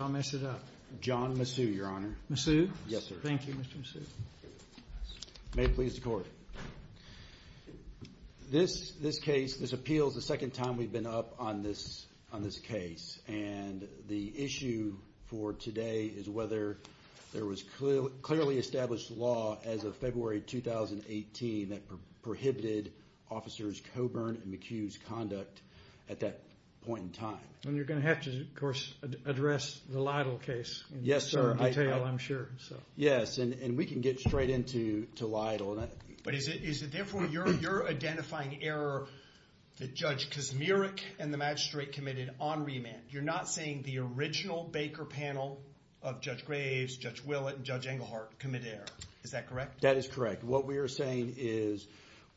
I'll mess it up. John Masu, your honor. Masu? Yes, sir. Thank you, Mr. Masu. May it please the court. This, this case, this appeals the second time we've been up on this on this case and the issue for today is whether there was clearly established law as of February 2018 that prohibited officers Coburn and McHugh's conduct at that point in time. And you're going to have to, address the Lytle case. Yes, sir. I'm sure so. Yes, and we can get straight into to Lytle. But is it, is it therefore you're, you're identifying error that Judge Kaczmarek and the magistrate committed on remand. You're not saying the original Baker panel of Judge Graves, Judge Willett, and Judge Englehart committed error. Is that correct? That is correct. What we are saying is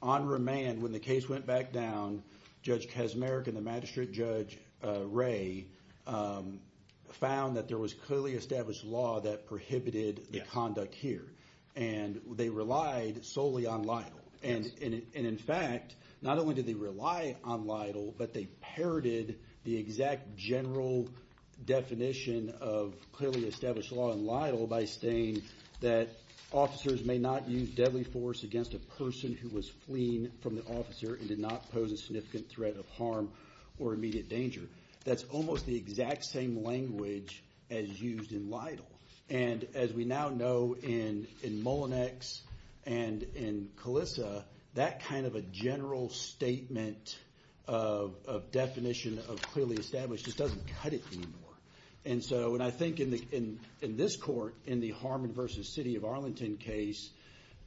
on remand when the case went back down, Judge Kaczmarek and the magistrate judge Ray found that there was clearly established law that prohibited the conduct here. And they relied solely on Lytle. And in fact, not only did they rely on Lytle, but they parroted the exact general definition of clearly established law in Lytle by saying that officers may not use deadly force against a person who was fleeing from the officer and did not pose a significant threat of harm or immediate danger. That's almost the exact same language as used in Lytle. And as we now know in, in Mullinex and in Calissa, that kind of a general statement of, of definition of clearly established just doesn't cut it anymore. And so, and I think in the, in, in this court, in the Harmon versus City of Arlington case,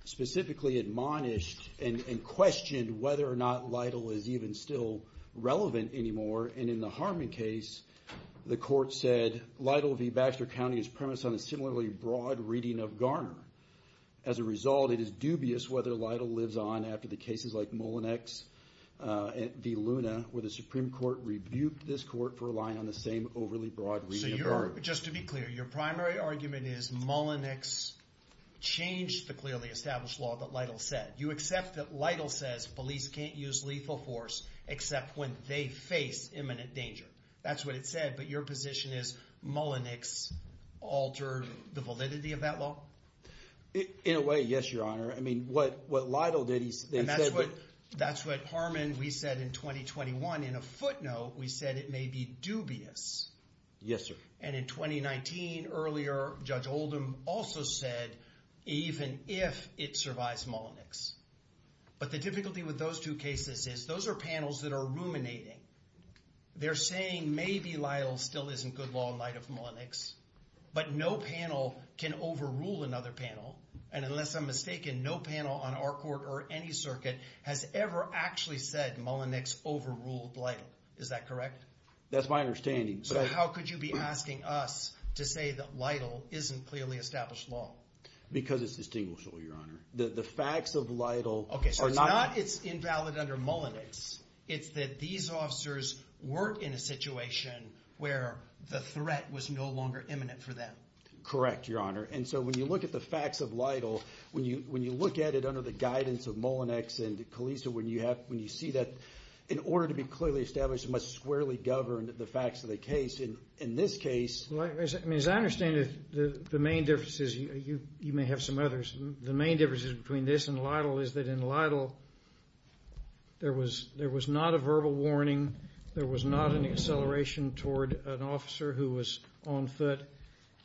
specifically admonished and, and questioned whether or not Lytle is even still relevant anymore. And in the Harmon case, the court said Lytle v. Baxter County is premised on a similarly broad reading of Garner. As a result, it is dubious whether Lytle lives on after the cases like Mullinex v. Luna, where the Supreme Court rebuked this court for relying on the same overly broad reading of Garner. So you're, just to be clear, your primary argument is Mullinex changed the clearly established law that Lytle said. You accept that Lytle says police can't use lethal force except when they face imminent danger. That's what it said, but your position is Mullinex altered the validity of that law? In a way, yes, your honor. I mean, what, what Lytle did, he said, but- That's what Harmon, we said in 2021, in a footnote, we said it may be dubious. Yes, sir. And in 2019 earlier, Judge Oldham also said, even if it survives Mullinex. But the difficulty with those two cases is those are panels that are ruminating. They're saying maybe Lytle still isn't good law in light of Mullinex, but no panel can overrule another panel. And unless I'm mistaken, no panel on our court or any circuit has ever actually said Mullinex overruled Lytle. Is that correct? That's my understanding. So how could you be asking us to say that Lytle isn't clearly established law? Because it's distinguishable, your honor. The, the facts of Lytle- Okay. So it's not, it's invalid under Mullinex. It's that these officers weren't in a situation where the threat was no longer imminent for them. Correct, your honor. And so when you look at the facts of Lytle, when you, when you look at it under the guidance of Mullinex and Kalisa, when you have, when you see that in order to be clearly established, it must squarely govern the facts of the case. And in this case- Well, I mean, as I understand it, the, the main differences, you, you, you may have some others. The main differences between this and Lytle is that in Lytle, there was, there was not a verbal warning. There was not an acceleration toward an officer who was on foot.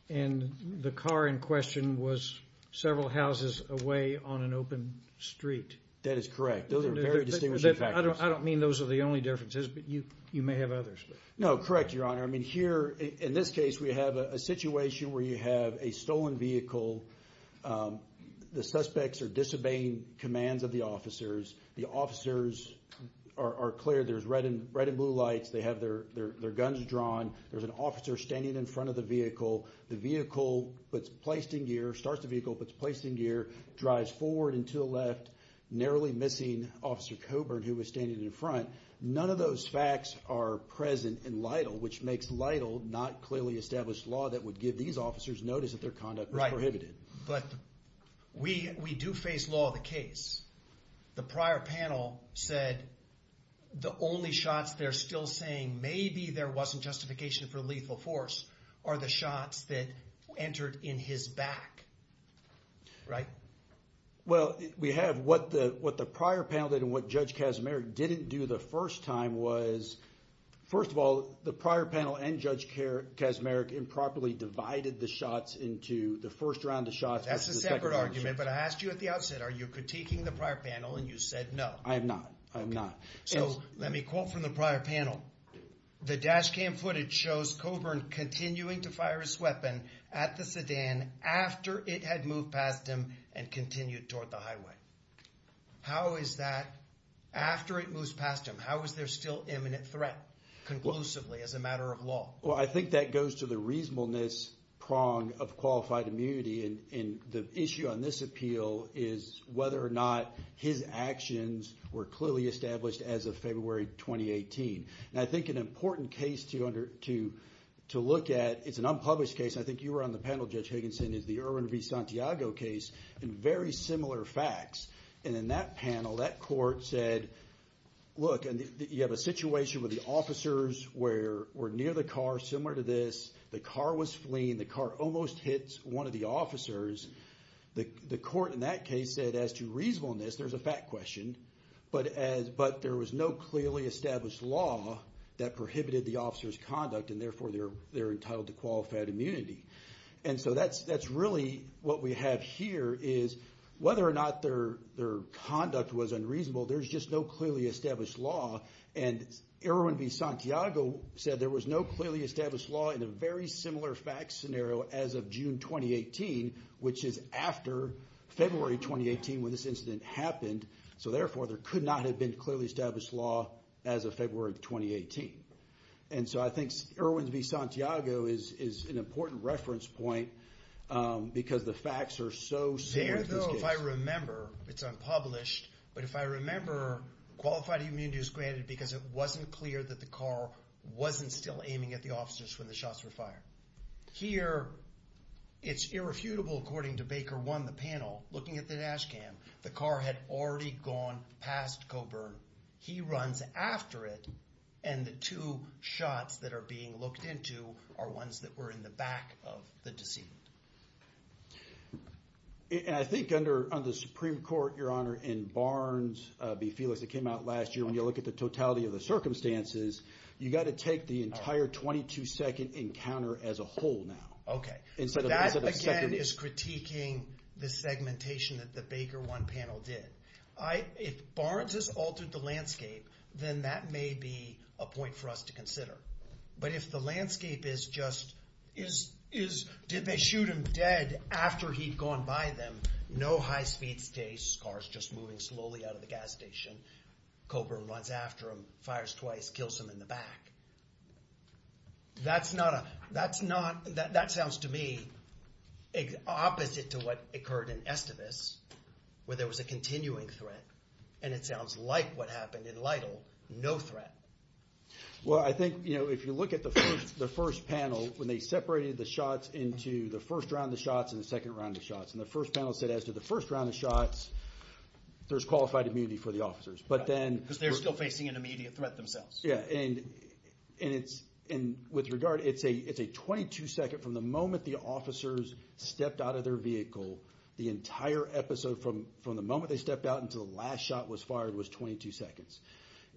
And the car in question was several houses away on an open street. That is correct. Those are very distinguishing factors. I don't mean those are the only differences, but you, you may have others. No, correct, your honor. I mean, here in this case, we have a situation where you have a stolen vehicle. The suspects are disobeying commands of the officers. The officers are clear. There's red and, red and blue lights. They have their, their, their guns drawn. There's an officer standing in front of the vehicle. The vehicle that's placed in gear, starts the vehicle that's placed in gear, drives forward and to the left, narrowly missing officer Coburn, who was standing in front. None of those facts are present in Lytle, which makes Lytle not clearly established law that would give these officers notice that their conduct was prohibited. But we, we do face law of the case. The prior panel said the only shots they're still saying, maybe there wasn't justification for lethal force, are the shots that entered in his back. Right. Well, we have what the, what the prior panel did and what judge Casimiro didn't do the first time was, first of all, the prior panel and judge care, Casimiro improperly divided the shots into the first round of shots. That's a separate argument, but I asked you at the outset, are you critiquing the prior panel? And you said, no, I'm not. I'm not. So let me quote from the prior panel. The dash cam footage shows Coburn continuing to fire his weapon at the sedan after it had moved past him and continued toward the highway. How is that after it moves past him? How is there still imminent threat conclusively as a matter of law? Well, I think that goes to the reasonableness prong of qualified immunity. And, and the issue on this appeal is whether or not his actions were clearly established as of February, 2018. I think an important case to look at, it's an unpublished case. I think you were on the panel, Judge Higginson, is the Irwin v. Santiago case and very similar facts. And in that panel, that court said, look, you have a situation where the officers were near the car, similar to this, the car was fleeing, the car almost hits one of the officers. The court in that case said as to reasonableness, there's a fact question, but as, but there was no clearly established law that prohibited the officer's conduct and therefore they're, they're entitled to qualified immunity. And so that's, that's really what we have here is whether or not their, their conduct was unreasonable, there's just no clearly established law. And Irwin v. Santiago said there was no clearly established law in a very similar fact scenario as of June, 2018, which is after February, 2018, when this incident happened. So therefore there could not have been clearly established law as of February, 2018. And so I think Irwin v. Santiago is, is an important reference point because the facts are so similar to this case. There though, if I remember, it's unpublished, but if I remember qualified immunity is granted because it wasn't clear that the car wasn't still aiming at the officers when the shots were fired. Here, it's irrefutable according to Baker one, the panel, looking at the dash cam, the car had already gone past Coburn. He runs after it. And the two shots that are being looked into are ones that were in the back of the decedent. And I think under, under the Supreme Court, your honor, in Barnes v. Felix, that came out last year, when you look at the totality of the circumstances, you got to take the entire 22 second encounter as a whole now. Okay. That again is critiquing the segmentation that the Baker one panel did. I, if Barnes has altered the landscape, then that may be a point for us to consider. But if the landscape is just, is, is, did they shoot him dead after he'd gone by them? No high speed stays, car's just moving slowly out of the gas station. Coburn runs after him, fires twice, kills him in the back. That's not a, that's not, that, that sounds to me opposite to what occurred in Estivus, where there was a continuing threat. And it sounds like what happened in Lytle, no threat. Well, I think, you know, if you look at the first, the first panel, when they separated the shots into the first round of shots and the second round of shots, and the first panel said as to the first round of shots, there's qualified immunity for the officers, but then... Because they're still facing an immediate threat themselves. Yeah. And, and it's, and with regard, it's a, it's a 22 second from the moment the officers stepped out of their vehicle, the entire episode from, from the moment they stepped out until the last shot was fired was 22 seconds.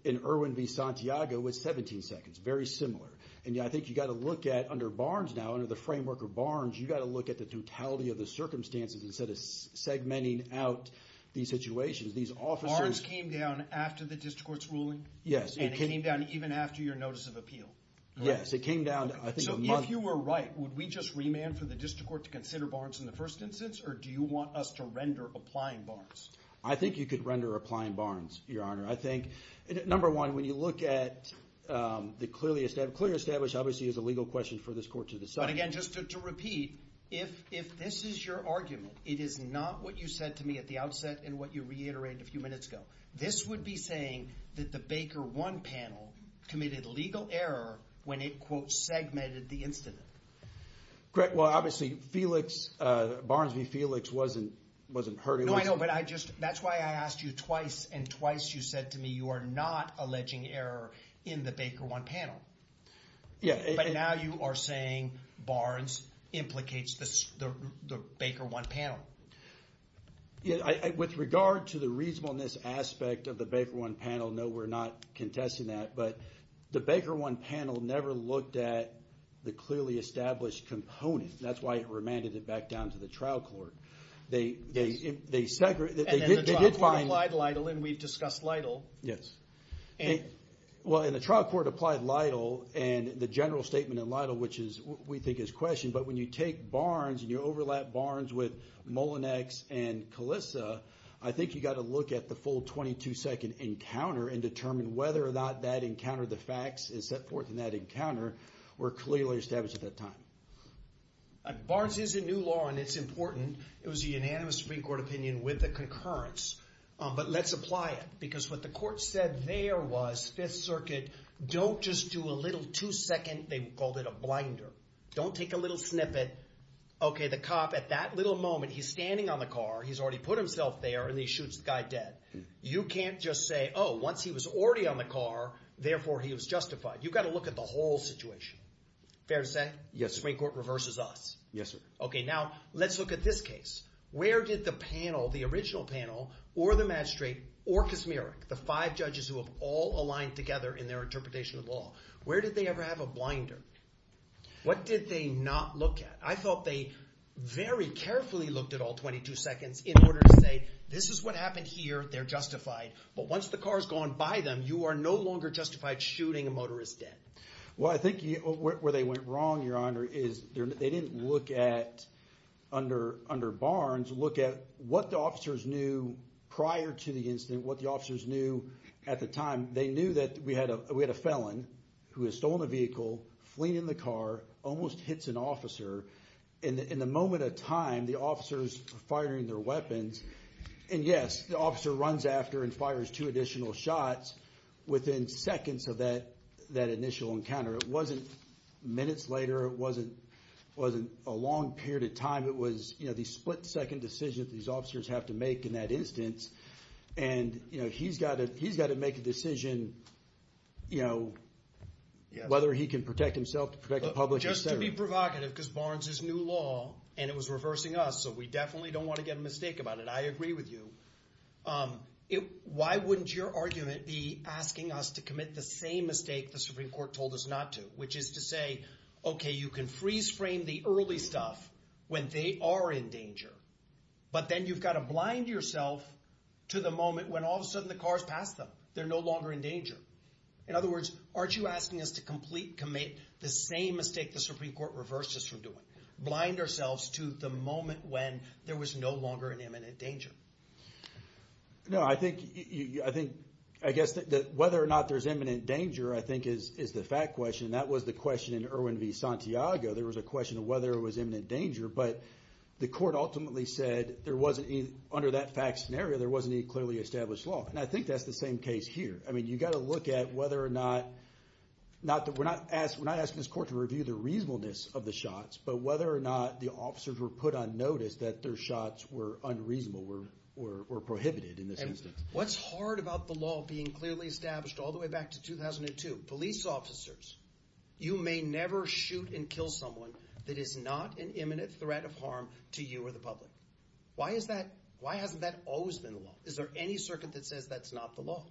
In Irwin v. Santiago was 17 seconds, very similar. And I think you got to look at under Barnes now, under the framework of Barnes, you got to look at the circumstances instead of segmenting out these situations. These officers... Barnes came down after the district court's ruling? Yes. And it came down even after your notice of appeal? Yes, it came down, I think, a month... So if you were right, would we just remand for the district court to consider Barnes in the first instance, or do you want us to render applying Barnes? I think you could render applying Barnes, Your Honor. I think, number one, when you look at the clearly established, clearly established obviously is a legal question for this court to decide. But again, just to repeat, if, if this is your argument, it is not what you said to me at the outset and what you reiterated a few minutes ago. This would be saying that the Baker 1 panel committed legal error when it quote, segmented the incident. Greg, well, obviously Felix, Barnes v. Felix wasn't, wasn't hurting... No, I know, but I just, that's why I asked you twice and twice you said to me, you are not alleging error in the Baker 1 panel. Yeah. But now you are saying Barnes implicates the, the Baker 1 panel. Yeah, I, with regard to the reasonableness aspect of the Baker 1 panel, no, we're not contesting that, but the Baker 1 panel never looked at the clearly established component. That's why it remanded it back down to the trial court. They, they, they segregated... And then the trial court applied Lytle and we've discussed Lytle. Yes. And... Well, and the trial court applied Lytle and the general statement in Lytle, which is what we think is questioned, but when you take Barnes and you overlap Barnes with Molinex and Calissa, I think you got to look at the full 22 second encounter and determine whether or not that encounter, the facts is set forth in that encounter were clearly established at that time. Barnes is a new law and it's important. It was a unanimous Supreme Court opinion with concurrence. But let's apply it because what the court said there was Fifth Circuit, don't just do a little two second, they called it a blinder. Don't take a little snippet. Okay, the cop at that little moment, he's standing on the car, he's already put himself there and he shoots the guy dead. You can't just say, oh, once he was already on the car, therefore he was justified. You've got to look at the whole situation. Fair to say? Yes, sir. Supreme Court reverses us. Yes, sir. Now, let's look at this case. Where did the panel, the original panel, or the match straight, or Kaczmarek, the five judges who have all aligned together in their interpretation of law, where did they ever have a blinder? What did they not look at? I thought they very carefully looked at all 22 seconds in order to say, this is what happened here, they're justified. But once the car's gone by them, you are no longer justified shooting a motorist dead. Well, I think where they went wrong, Your Honor, is they didn't look at, under Barnes, look at what the officers knew prior to the incident, what the officers knew at the time. They knew that we had a felon who has stolen a vehicle, fleeing in the car, almost hits an officer. In the moment of time, the officers are firing their weapons. And yes, the officer runs after and fires two additional shots within seconds of that initial encounter. It wasn't minutes later. It wasn't a long period of time. It was the split second decision that these officers have to make in that instance. And he's got to make a decision whether he can protect himself, to protect the public, etc. Just to be provocative, because Barnes is new law, and it was reversing us. So we definitely don't want to get a mistake about it. I agree with you. Why wouldn't your argument be asking us to commit the same mistake the Supreme Court told us not to? Which is to say, okay, you can freeze frame the early stuff when they are in danger. But then you've got to blind yourself to the moment when all of a sudden the car's passed them. They're no longer in danger. In other words, aren't you asking us to complete commit the same mistake the Supreme Court reversed us from doing? Blind ourselves to the moment when there was no longer an imminent danger. No, I think, I guess that whether or not there's imminent danger, I think is the fact question. That was the question in Irwin v. Santiago. There was a question of whether it was imminent danger, but the court ultimately said there wasn't, under that fact scenario, there wasn't any clearly established law. And I think that's the same case here. I mean, you got to look at whether or not, we're not asking this court to review the reasonableness of the shots, but whether or not the officers were put on notice that their shots were unreasonable or prohibited in this instance. What's hard about the law being clearly established all the way back to 2002, police officers, you may never shoot and kill someone that is not an imminent threat of harm to you or the public. Why hasn't that always been the law? Is there any circuit that says that's not the law?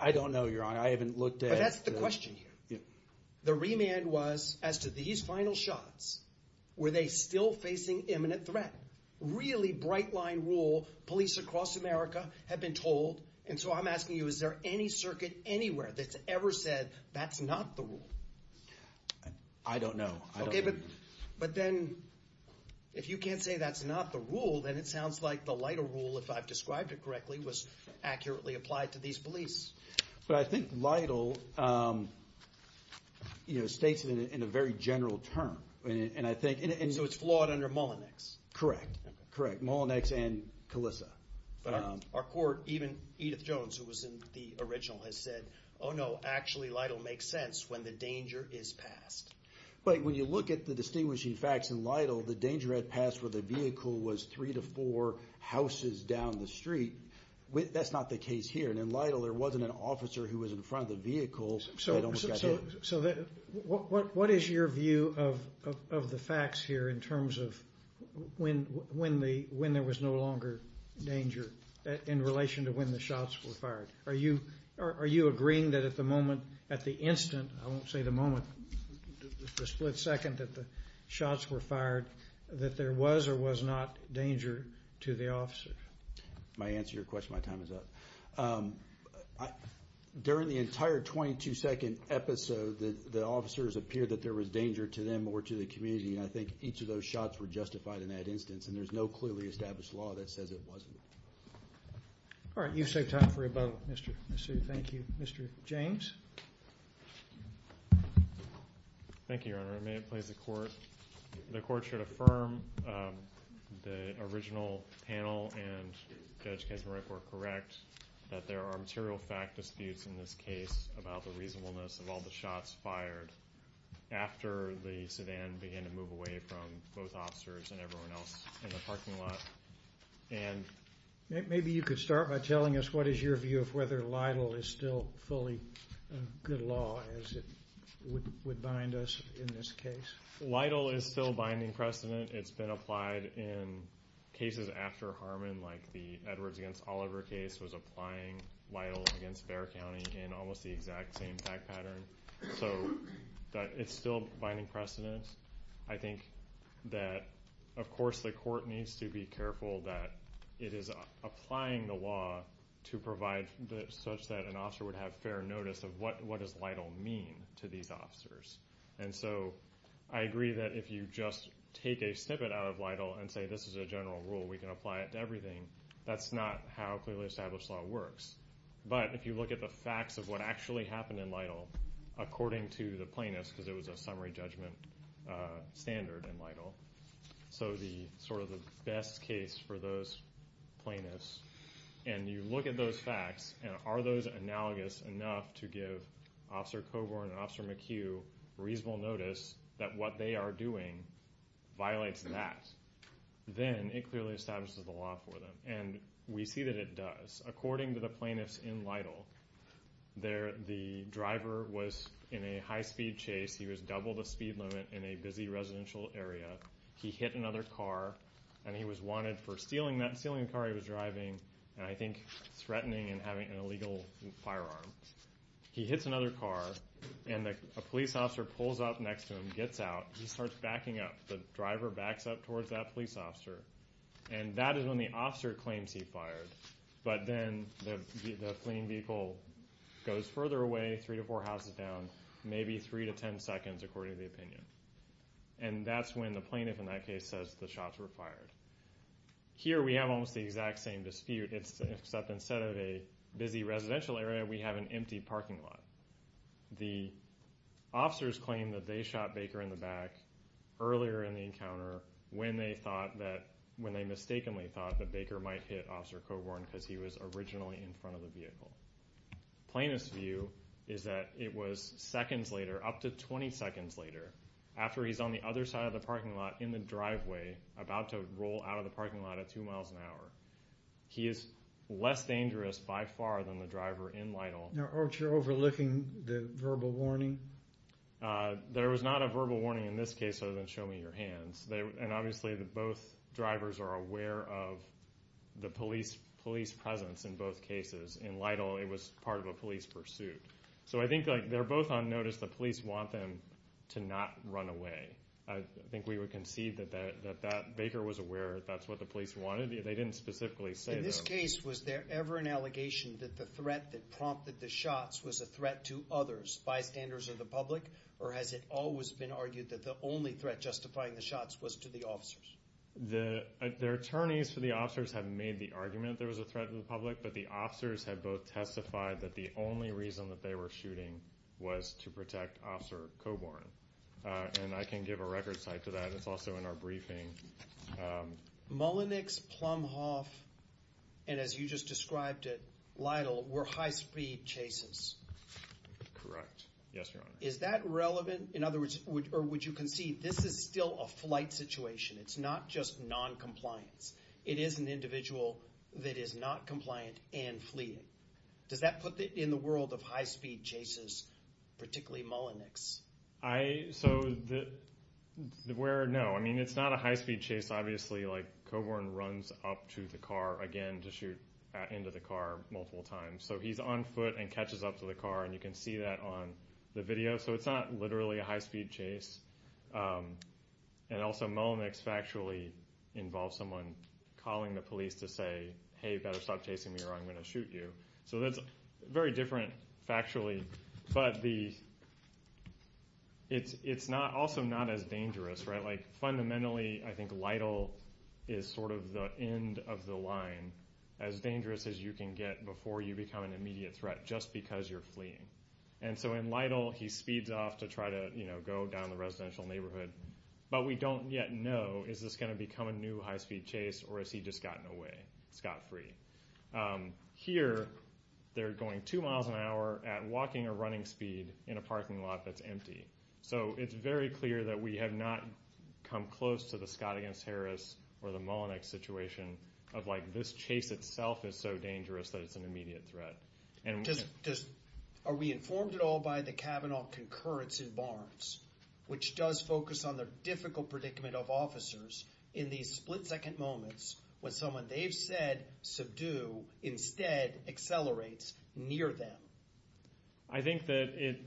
I don't know, Your Honor. I haven't looked at... But that's the question here. The remand was, as to these final shots, were they still facing imminent threat? Really bright line rule, police across America have been told, and so I'm asking you, is there any circuit anywhere that's ever said that's not the rule? I don't know. Okay, but then, if you can't say that's not the rule, then it sounds like the lighter rule, if I've described it correctly, was accurately applied to these police. But I think Lytle states it in a very general term, and I think... So it's flawed under Mullinex? Correct, correct. Mullinex and Calissa. Our court, even Edith Jones, who was in the original, has said, oh no, actually, Lytle makes sense when the danger is passed. But when you look at the distinguishing facts in Lytle, the danger had passed where the vehicle was three to four houses down the street. That's not the case here. And in Lytle, there wasn't an officer who was in front of the vehicle that almost got hit. So what is your view of the facts here in terms of when there was no longer danger in relation to when the shots were fired? Are you agreeing that at the moment, at the instant, I won't say the moment, the split second that the shots were fired, that there was or was not danger to the officer? My answer to your question, my time is up. During the entire 22-second episode, the officers appeared that there was danger to them or to the community, and I think each of those shots were justified in that instance. And there's no clearly established law that says it wasn't. All right, you've saved time for rebuttal, Mr. Massoud. Thank you. Mr. James? Thank you, Your Honor. May it please the Court? The Court should affirm the original panel and Judge Kaczmarek were correct that there are material fact disputes in this case about the reasonableness of all the shots fired after the sedan began to move away from both officers and everyone else in the parking lot. And maybe you could start by telling us what is your view of whether LIDL is still fully a good law as it would bind us in this case? LIDL is still binding precedent. It's been applied in cases after Harmon, like the Edwards against Oliver case was applying LIDL against Bexar County in almost the exact same fact pattern. So it's still binding precedent. I think that, of course, the Court needs to be careful that it is applying the law to provide such that an officer would have fair notice of what does LIDL mean to these officers. And so I agree that if you just take a snippet out of LIDL and say this is a general rule, we can apply it to everything, that's not how clearly established law works. But if you look at the facts of what actually happened in LIDL, according to the plaintiffs, because it was a summary judgment standard in LIDL. So the sort of the best case for those plaintiffs, and you look at those facts, and are those analogous enough to give Officer Coburn and Officer McHugh reasonable notice that what they are doing violates that, then it clearly establishes the law for them. And we see that it does. According to the plaintiffs in LIDL, the driver was in a high-speed chase, he was double the speed limit in a busy residential area, he hit another car, and he was wanted for stealing the car he was driving, and I think threatening and having an illegal firearm. He hits another car, and a police officer pulls up next to him, gets out, he starts backing up, the driver backs up towards that police officer, and that is when the officer claims he fired. But then the fleeing vehicle goes further away, three to four minutes, and that is when the plaintiff in that case says the shots were fired. Here we have almost the exact same dispute, except instead of a busy residential area, we have an empty parking lot. The officers claim that they shot Baker in the back earlier in the encounter when they thought that, when they mistakenly thought that Baker might hit Officer Coburn because he was originally in front of the vehicle. Plaintiff's view is that it was seconds later, up to 20 seconds later, after he's on the other side of the parking lot in the driveway about to roll out of the parking lot at two miles an hour. He is less dangerous by far than the driver in LIDL. Now aren't you overlooking the verbal warning? There was not a verbal warning in this case other than show me your hands. And obviously both drivers are aware of the police presence in both cases. In LIDL, it was part of a police pursuit. So I think they're both on notice. The police want them to not run away. I think we would concede that Baker was aware that's what the police wanted. They didn't specifically say that. In this case, was there ever an allegation that the threat that prompted the shots was a threat to others, bystanders, or the public? Or has it always been argued that the only threat justifying the shots was to the officers? The attorneys for the officers have made the argument that there was a threat to the public, but the officers have both testified that the only reason that they were shooting was to protect Officer Coborn. And I can give a record site to that. It's also in our briefing. Mullenix, Plumhoff, and as you just described it, LIDL were high-speed chases. Correct. Yes, Your Honor. Is that relevant? In other words, or would you concede this is still a flight situation? It's not just non-compliance. It is an individual that is not compliant and fleeting. Does that put it in the world of high-speed chases, particularly Mullenix? No. I mean, it's not a high-speed chase, obviously. Coborn runs up to the car, again, to shoot into the car multiple times. So he's on foot and catches up to the car, and you can see that on the video. So it's not literally a high-speed chase. And also, Mullenix factually involves someone calling the police to say, hey, you better stop chasing me or I'm going to shoot you. So that's very different factually. But it's also not as dangerous. Fundamentally, I think LIDL is sort of the end of the line, as dangerous as you can get before you become an immediate threat just because you're fleeing. And so in LIDL, he speeds off to try to go down the residential neighborhood. But we don't yet know, is this going to become a new high-speed chase, or has he just gotten away scot-free? Here, they're going two miles an hour at walking or running speed in a parking lot that's empty. So it's very clear that we have not come close to the Scott against Harris or the Mullenix situation of like this chase itself is so dangerous that it's an immediate threat. And just are we informed at all by the Kavanaugh concurrence in Barnes, which does focus on the difficult predicament of officers in these split-second moments when someone they've said subdue instead accelerates near them? I think that it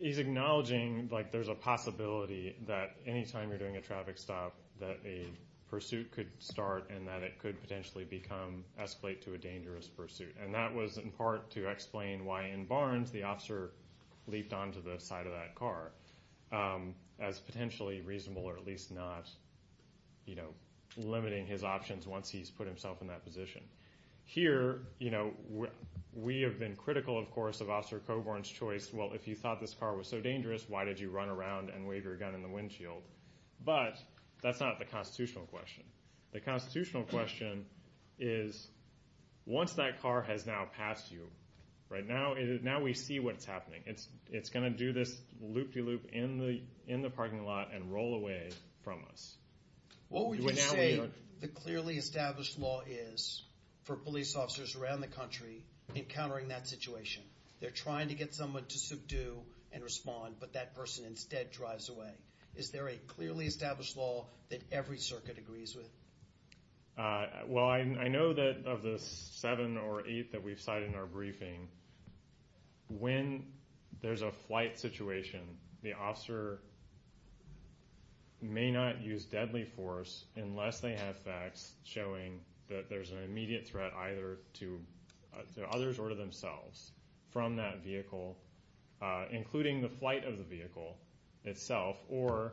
is acknowledging like there's a possibility that anytime you're doing a traffic stop that a pursuit could start and that it could potentially escalate to a dangerous pursuit. And that was in part to explain why in Barnes the officer leaped onto the side of that car as potentially reasonable or at least not limiting his options once he's put himself in that position. Here, we have been critical of course of Officer Coburn's choice. Well, if you thought this car was so dangerous, why did you run around and wave your gun in the windshield? But that's not the constitutional question. The constitutional question is once that car has now passed you, right now we see what's happening. It's going to do this loop-de-loop in the parking lot and roll away from us. What would you say the clearly established law is for police officers around the country encountering that situation? They're trying to get someone to subdue and respond but that person instead drives away. Is there a clearly established law that every circuit agrees with? Well, I know that of the seven or eight that we've cited in our briefing, when there's a flight situation the officer may not use deadly force unless they have facts showing that there's an immediate threat either to others or to themselves from that vehicle, including the flight of the vehicle itself or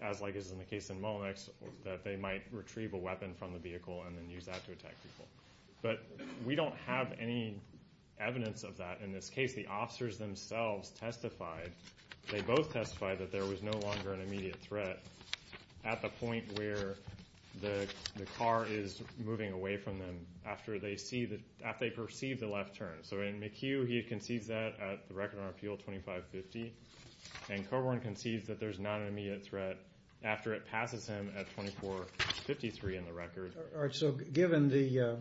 as like is in the case in Mullenix that they might retrieve a weapon from the vehicle and then use that to attack people. But we don't have any evidence of that in this case. The officers themselves testified, they both testified that there was no longer an immediate threat at the point where the car is moving away from them after they perceive the left turn. So in McHugh he concedes that at the record on appeal 2550 and Coburn concedes that there's not an immediate threat after it passes him at 2453 in the record. All right, so given the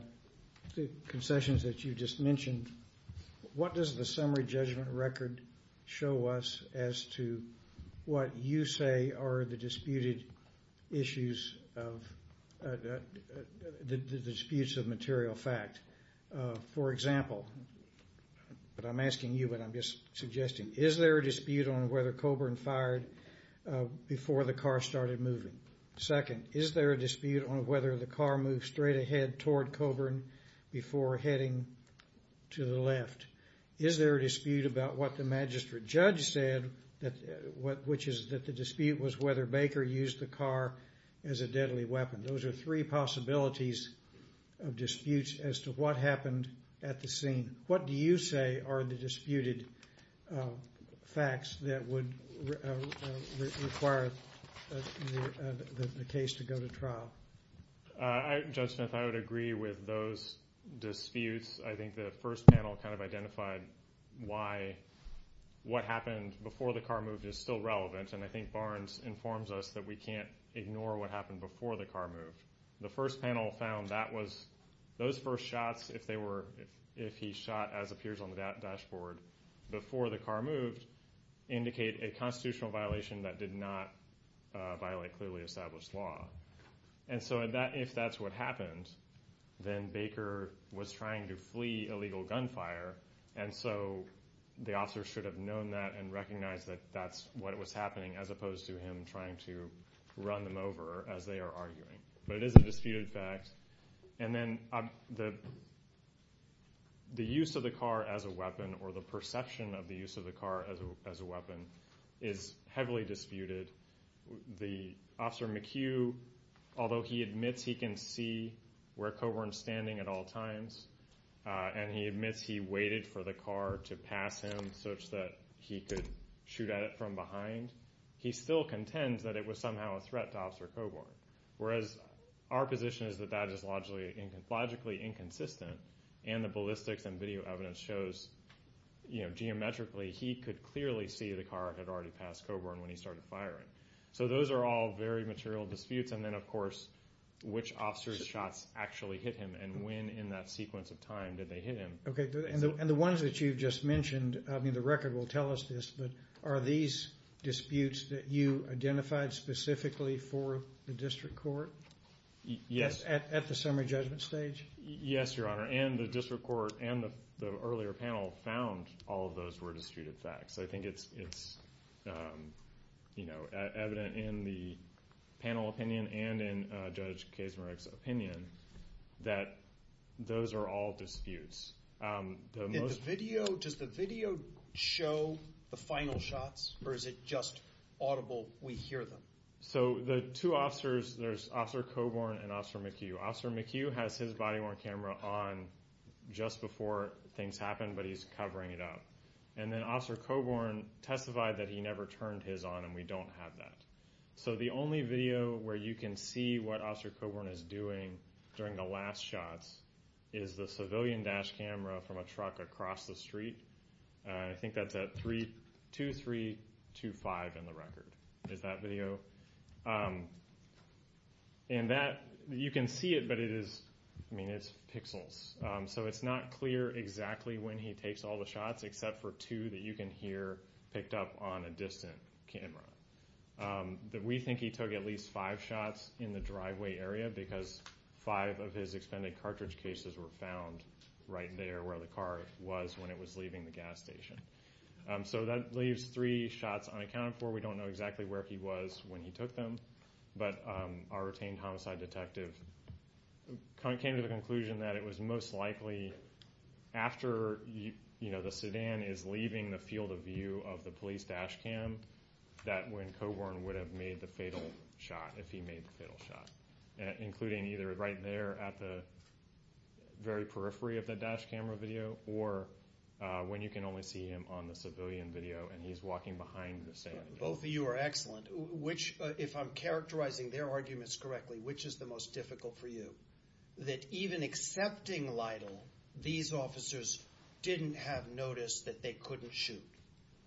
concessions that you just mentioned, what does the summary judgment record show us as to what you say are the disputed issues of the disputes of material fact? For example, but I'm asking you what I'm just suggesting, is there a dispute on whether Coburn fired before the car started moving? Second, is there a dispute on whether the car moved straight ahead toward Coburn before heading to the left? Is there a dispute about what the magistrate judge said that what which is that the dispute was whether Baker used the car as a deadly weapon? Those are three possibilities of disputes as to what happened at the scene. What do you say are the disputed facts that would require the case to go to trial? I, Judge Smith, I would agree with those disputes. I think the first panel kind of identified why what happened before the car moved is still relevant and I think Barnes informs us that we can't ignore what happened before the car moved. The first panel found that was those first shots if they were if he shot as appears on the dashboard before the car moved indicate a constitutional violation that did not violate clearly established law and so that if that's what happened then Baker was trying to flee illegal gunfire and so the officer should have known that and recognized that that's what was happening as opposed to him trying to run them over as they are arguing. But it is a disputed fact and then the use of the car as a weapon or the perception of the use of the car as a weapon is heavily disputed. The officer McHugh, although he admits he can see where Coburn's standing at all times and he admits he waited for the car to pass him such that he could shoot at it from behind, he still contends that it was somehow a threat to Officer Coburn. Whereas our position is that that is logically inconsistent and the ballistics and video evidence shows you know geometrically he could clearly see the car had already passed Coburn when he started firing. So those are all very material disputes and then of course which officer's shots actually hit him and when in that sequence of time did they hit him. Okay and the ones that you've just mentioned I mean the record will tell us this but are these disputes that you identified specifically for the district court? Yes. At the summary judgment stage? Yes your honor and the district court and the earlier panel found all of those were disputed facts. I think it's you know evident in the panel opinion and in Kazimierz's opinion that those are all disputes. Does the video show the final shots or is it just audible we hear them? So the two officers there's Officer Coburn and Officer McHugh. Officer McHugh has his body worn camera on just before things happen but he's covering it up and then Officer Coburn testified that he never turned his on and we don't have that. So the only video where you can see what Officer Coburn is doing during the last shots is the civilian dash camera from a truck across the street. I think that's at three two three two five in the record is that video. And that you can see it but it is I mean it's pixels so it's not clear exactly when he takes all the shots except for two that you can hear picked up on a distant camera. We think he took at least five shots in the driveway area because five of his expended cartridge cases were found right there where the car was when it was leaving the gas station. So that leaves three shots unaccounted for. We don't know exactly where he was when he took them but our retained homicide detective came to the conclusion that it was most likely after you know the sedan is leaving the field of view of the police dash cam that when Coburn would have made the fatal shot if he made the fatal shot including either right there at the very periphery of the dash camera video or when you can only see him on the civilian video and he's walking behind the same. Both of you are excellent which if I'm characterizing their arguments correctly which is the most difficult for you that even accepting Lytle these officers didn't have notice that they couldn't shoot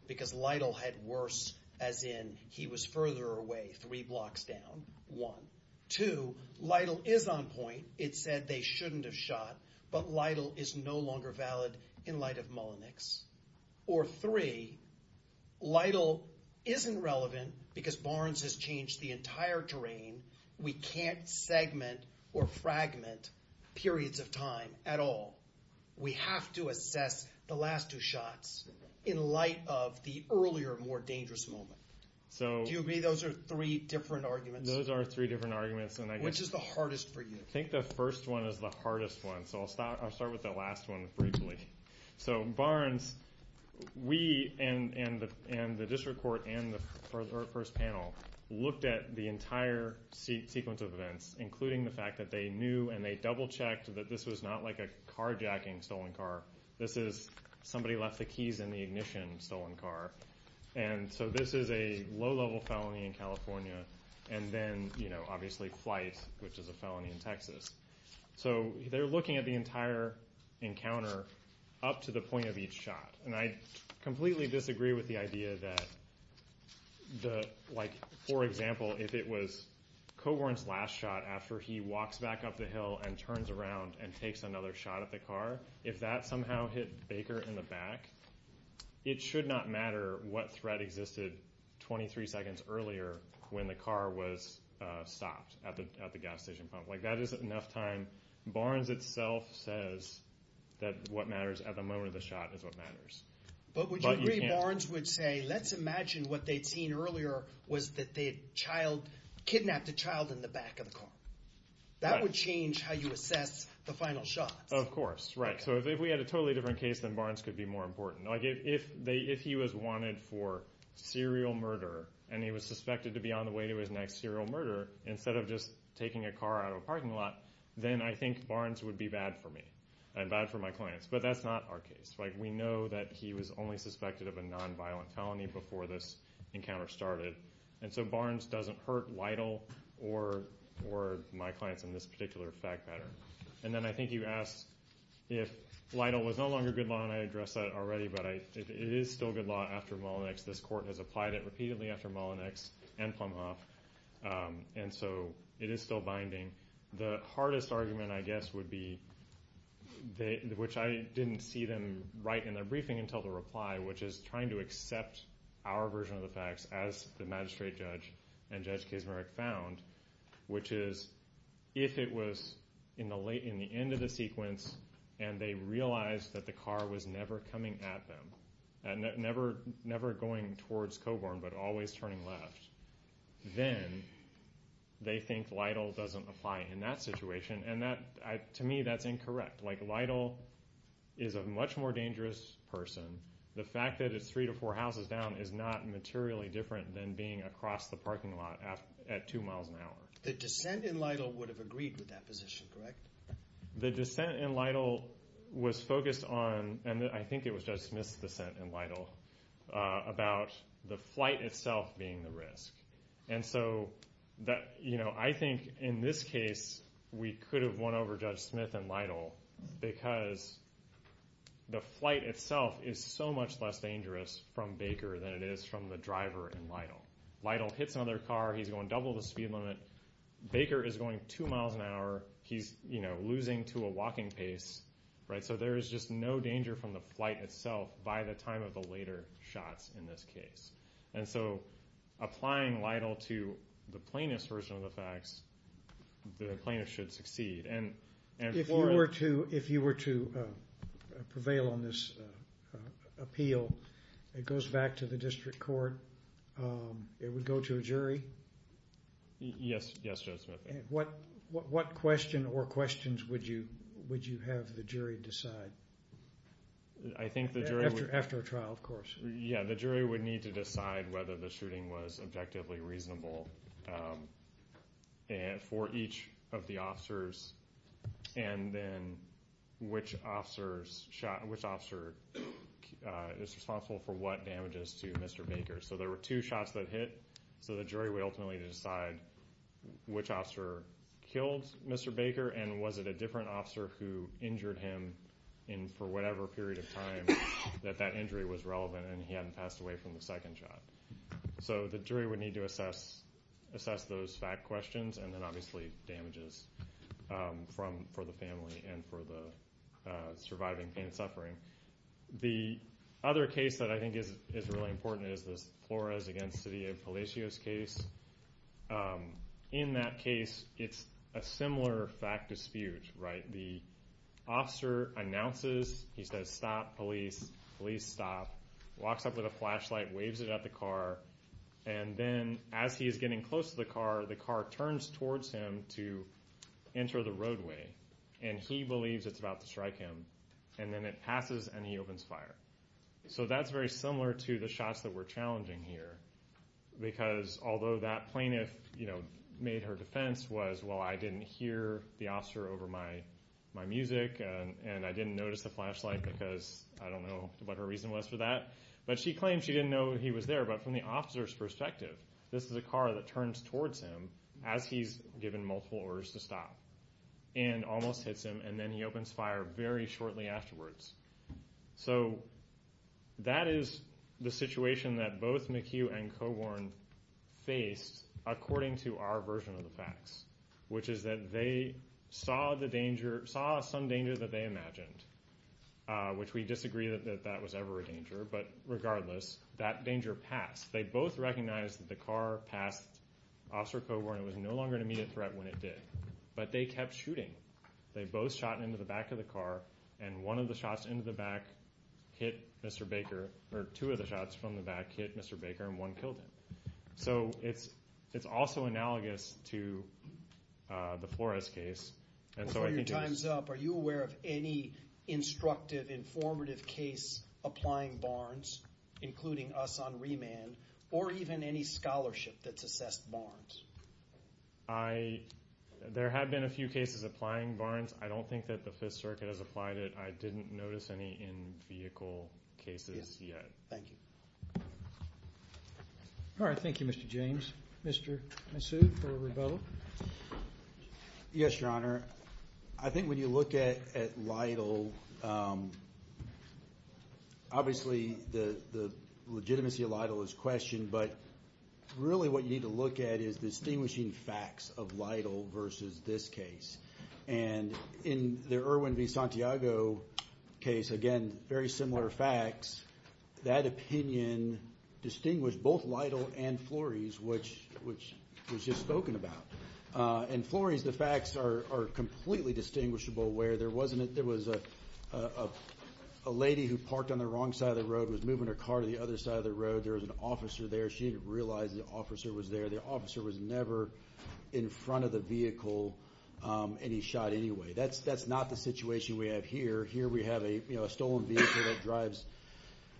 because Lytle had worse as in he was further away three blocks down one two Lytle is on point it said they shouldn't have shot but Lytle is no longer valid in light of Mullenix or three Lytle isn't relevant because Barnes has changed the entire terrain we can't fragment periods of time at all we have to assess the last two shots in light of the earlier more dangerous moment so do you agree those are three different arguments those are three different arguments and I guess which is the hardest for you I think the first one is the hardest one so I'll start I'll start with the last one briefly so Barnes we and and the and the district court and first panel looked at the entire sequence of events including the fact that they knew and they double checked that this was not like a carjacking stolen car this is somebody left the keys in the ignition stolen car and so this is a low-level felony in California and then you know obviously flight which is a felony in Texas so they're looking at the entire encounter up to point of each shot and I completely disagree with the idea that the like for example if it was Coghorn's last shot after he walks back up the hill and turns around and takes another shot at the car if that somehow hit Baker in the back it should not matter what threat existed 23 seconds earlier when the car was stopped at the at the gas station pump like that is enough time Barnes itself says that what matters at the moment of the shot is what matters but would you agree Barnes would say let's imagine what they'd seen earlier was that the child kidnapped a child in the back of the car that would change how you assess the final shot of course right so if we had a totally different case than Barnes could be more important like if they if he was wanted for serial murder and he was suspected to be on the way to his next serial murder instead of just taking a car out of a parking lot then I think Barnes would be bad for me and bad for my clients but that's not our case like we know that he was only suspected of a non-violent felony before this encounter started and so Barnes doesn't hurt Lytle or or my clients in this particular fact pattern and then I think you asked if Lytle was no longer good law and I addressed that already but I it is still good law after Mullinex this court has applied it repeatedly after Mullinex and Plumhoff um and so it is still binding the hardest argument I guess would be they which I didn't see them right in their briefing until the reply which is trying to accept our version of the facts as the magistrate judge and judge Kazimerich found which is if it was in the late in the end of the sequence and they realized that the car was never coming at them and never never going towards Coburn but always turning left then they think Lytle doesn't apply in that situation and that to me that's incorrect like Lytle is a much more dangerous person the fact that it's three to four houses down is not materially different than being across the parking lot at two miles an hour. The dissent in Lytle would have agreed with that position correct? The dissent in Lytle was focused on and I think it was Judge Smith's dissent in Lytle about the flight itself being the risk and so that you know I think in this case we could have won over Judge Smith and Lytle because the flight itself is so much less dangerous from Baker than it is from the driver in Lytle. Lytle hits another car he's going double the speed limit Baker is going two miles an hour he's you know losing to a walking pace right so there is just no danger from the flight itself by the time of the later shots in this case and so applying Lytle to the plaintiff's version of the facts the plaintiff should succeed. If you were to if you were to prevail on this appeal it goes back to the district court it would go to a jury? Yes Judge Smith. What question or questions would you would you have the jury decide? I think the jury. After a trial of course. Yeah the jury would need to decide whether the shooting was objectively reasonable and for each of the officers and then which officers shot which officer is responsible for what damages to Mr. Baker so there were two shots that hit so the jury would ultimately decide which officer killed Mr. Baker and was it a different officer who injured him in for whatever period of time that that injury was relevant and he hadn't passed away from the second shot so the jury would need to assess assess those fact questions and then obviously damages from for the family and for the surviving pain and suffering. The other case that I think is is really important is this Flores against Cydia Palacios case. In that case it's a similar fact dispute right the officer announces he says stop police police stop walks up with a flashlight waves it at the car and then as he is getting close to the car the car turns towards him to enter the roadway and he believes it's about to strike him and then it passes and he opens fire so that's very similar to the shots that were challenging here because although that plaintiff you know made her defense was well I didn't hear the officer over my my music and I didn't notice the flashlight because I don't know what her reason was for that but she claimed she didn't know he was there but from the officer's perspective this is a car that turns towards him as he's given multiple orders to stop and almost hits him and then he opens fire very shortly afterwards so that is the situation that both McHugh and Coburn faced according to our version of the facts which is that they saw the danger saw some danger that they imagined which we disagree that that was ever a danger but regardless that danger passed they both recognized that the car passed officer Coburn it was no longer an immediate threat when it did but they kept shooting they both shot into the back of the car and one of the shots into the back hit Mr. Baker or two of the shots from the back hit Mr. Baker and one killed him so it's it's also analogous to the Flores case and so your time's up are you aware of any instructive informative case applying Barnes including us on remand or even any scholarship that's assessed Barnes I there have been a few cases applying Barnes I don't think that the Fifth Circuit has applied it I didn't notice any in vehicle cases yet thank you all right thank you Mr. James Mr. Massoud for a rebuttal yes your honor I think when you look at at Lytle obviously the the legitimacy of Lytle is questioned but really what you need to look at is distinguishing facts of Lytle versus this case and in the Irwin v Santiago case again very similar facts that opinion distinguished both Lytle and Flores which which was just spoken about and Flores the facts are are completely distinguishable where there wasn't it there was a a lady who parked on the wrong side of the road was moving her car to the other side of the road there was an officer there she didn't realize the officer was there the officer was never in front of the vehicle and he shot anyway that's that's not the situation we have here here we have a you know a stolen vehicle that drives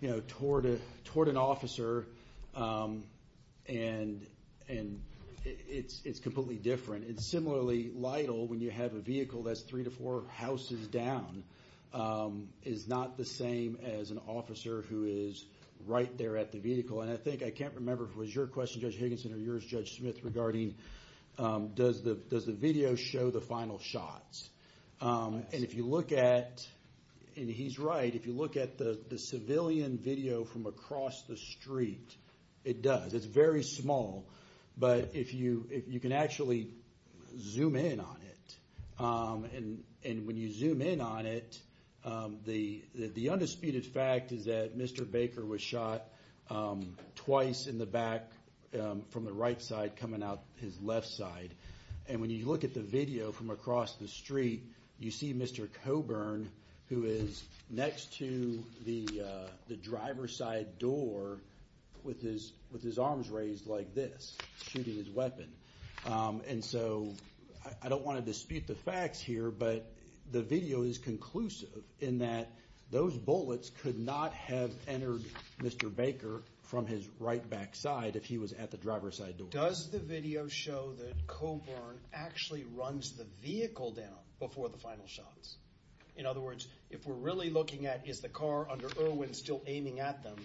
you know toward a toward an officer and and it's it's completely different it's similarly Lytle when you have a vehicle that's three to four houses down is not the same as an officer who is right there at the vehicle and I think I can't remember if it was your question Judge Higginson or yours Judge Smith regarding does the does the video show the final shots and if you look at and he's right if you look at the the civilian video from across the street it does it's very small but if you if you actually zoom in on it and and when you zoom in on it the the undisputed fact is that Mr. Baker was shot twice in the back from the right side coming out his left side and when you look at the video from across the street you see Mr. Coburn who is next to the the driver's side door with his with his arms raised like this shooting his weapon and so I don't want to dispute the facts here but the video is conclusive in that those bullets could not have entered Mr. Baker from his right back side if he was at the driver's side does the video show that Coburn actually runs the vehicle down before the final shots in other words if we're really looking at is the car under Irwin still aiming at them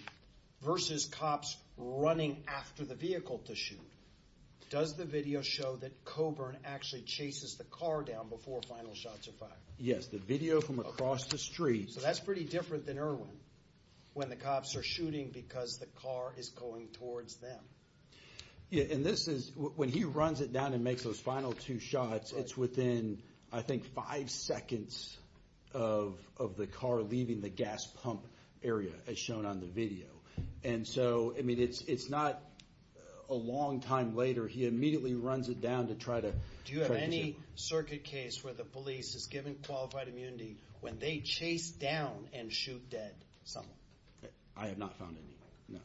versus cops running after the vehicle to shoot does the video show that Coburn actually chases the car down before final shots are fired yes the video from across the street so that's pretty different than Irwin when the cops are shooting because the car is going towards them yeah and this is when he runs it down and makes those final two shots it's within I think five seconds of of the car leaving the gas pump area as shown on the video and so I mean it's it's not a long time later he immediately runs it down to try to do you have any circuit case where the police is given qualified immunity when they chase down and shoot dead someone I have not found any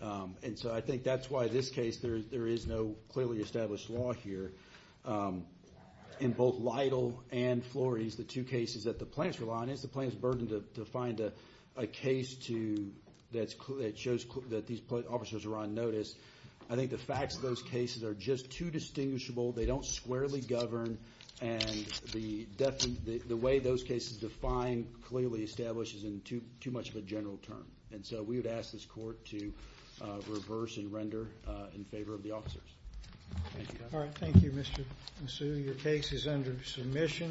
no and so I think that's why this case there is no clearly established law here in both Lytle and Flores the two cases that the plaintiffs rely on is the plaintiff's burden to find a case to that's clearly it shows that these officers are on notice I think the facts of those cases are just too distinguishable they don't squarely govern and the definitely the way those cases define clearly establishes in too too much of a general term and so we would ask this court to reverse and render in favor of the officers thank you all right thank you Mr. Masu your case is under submission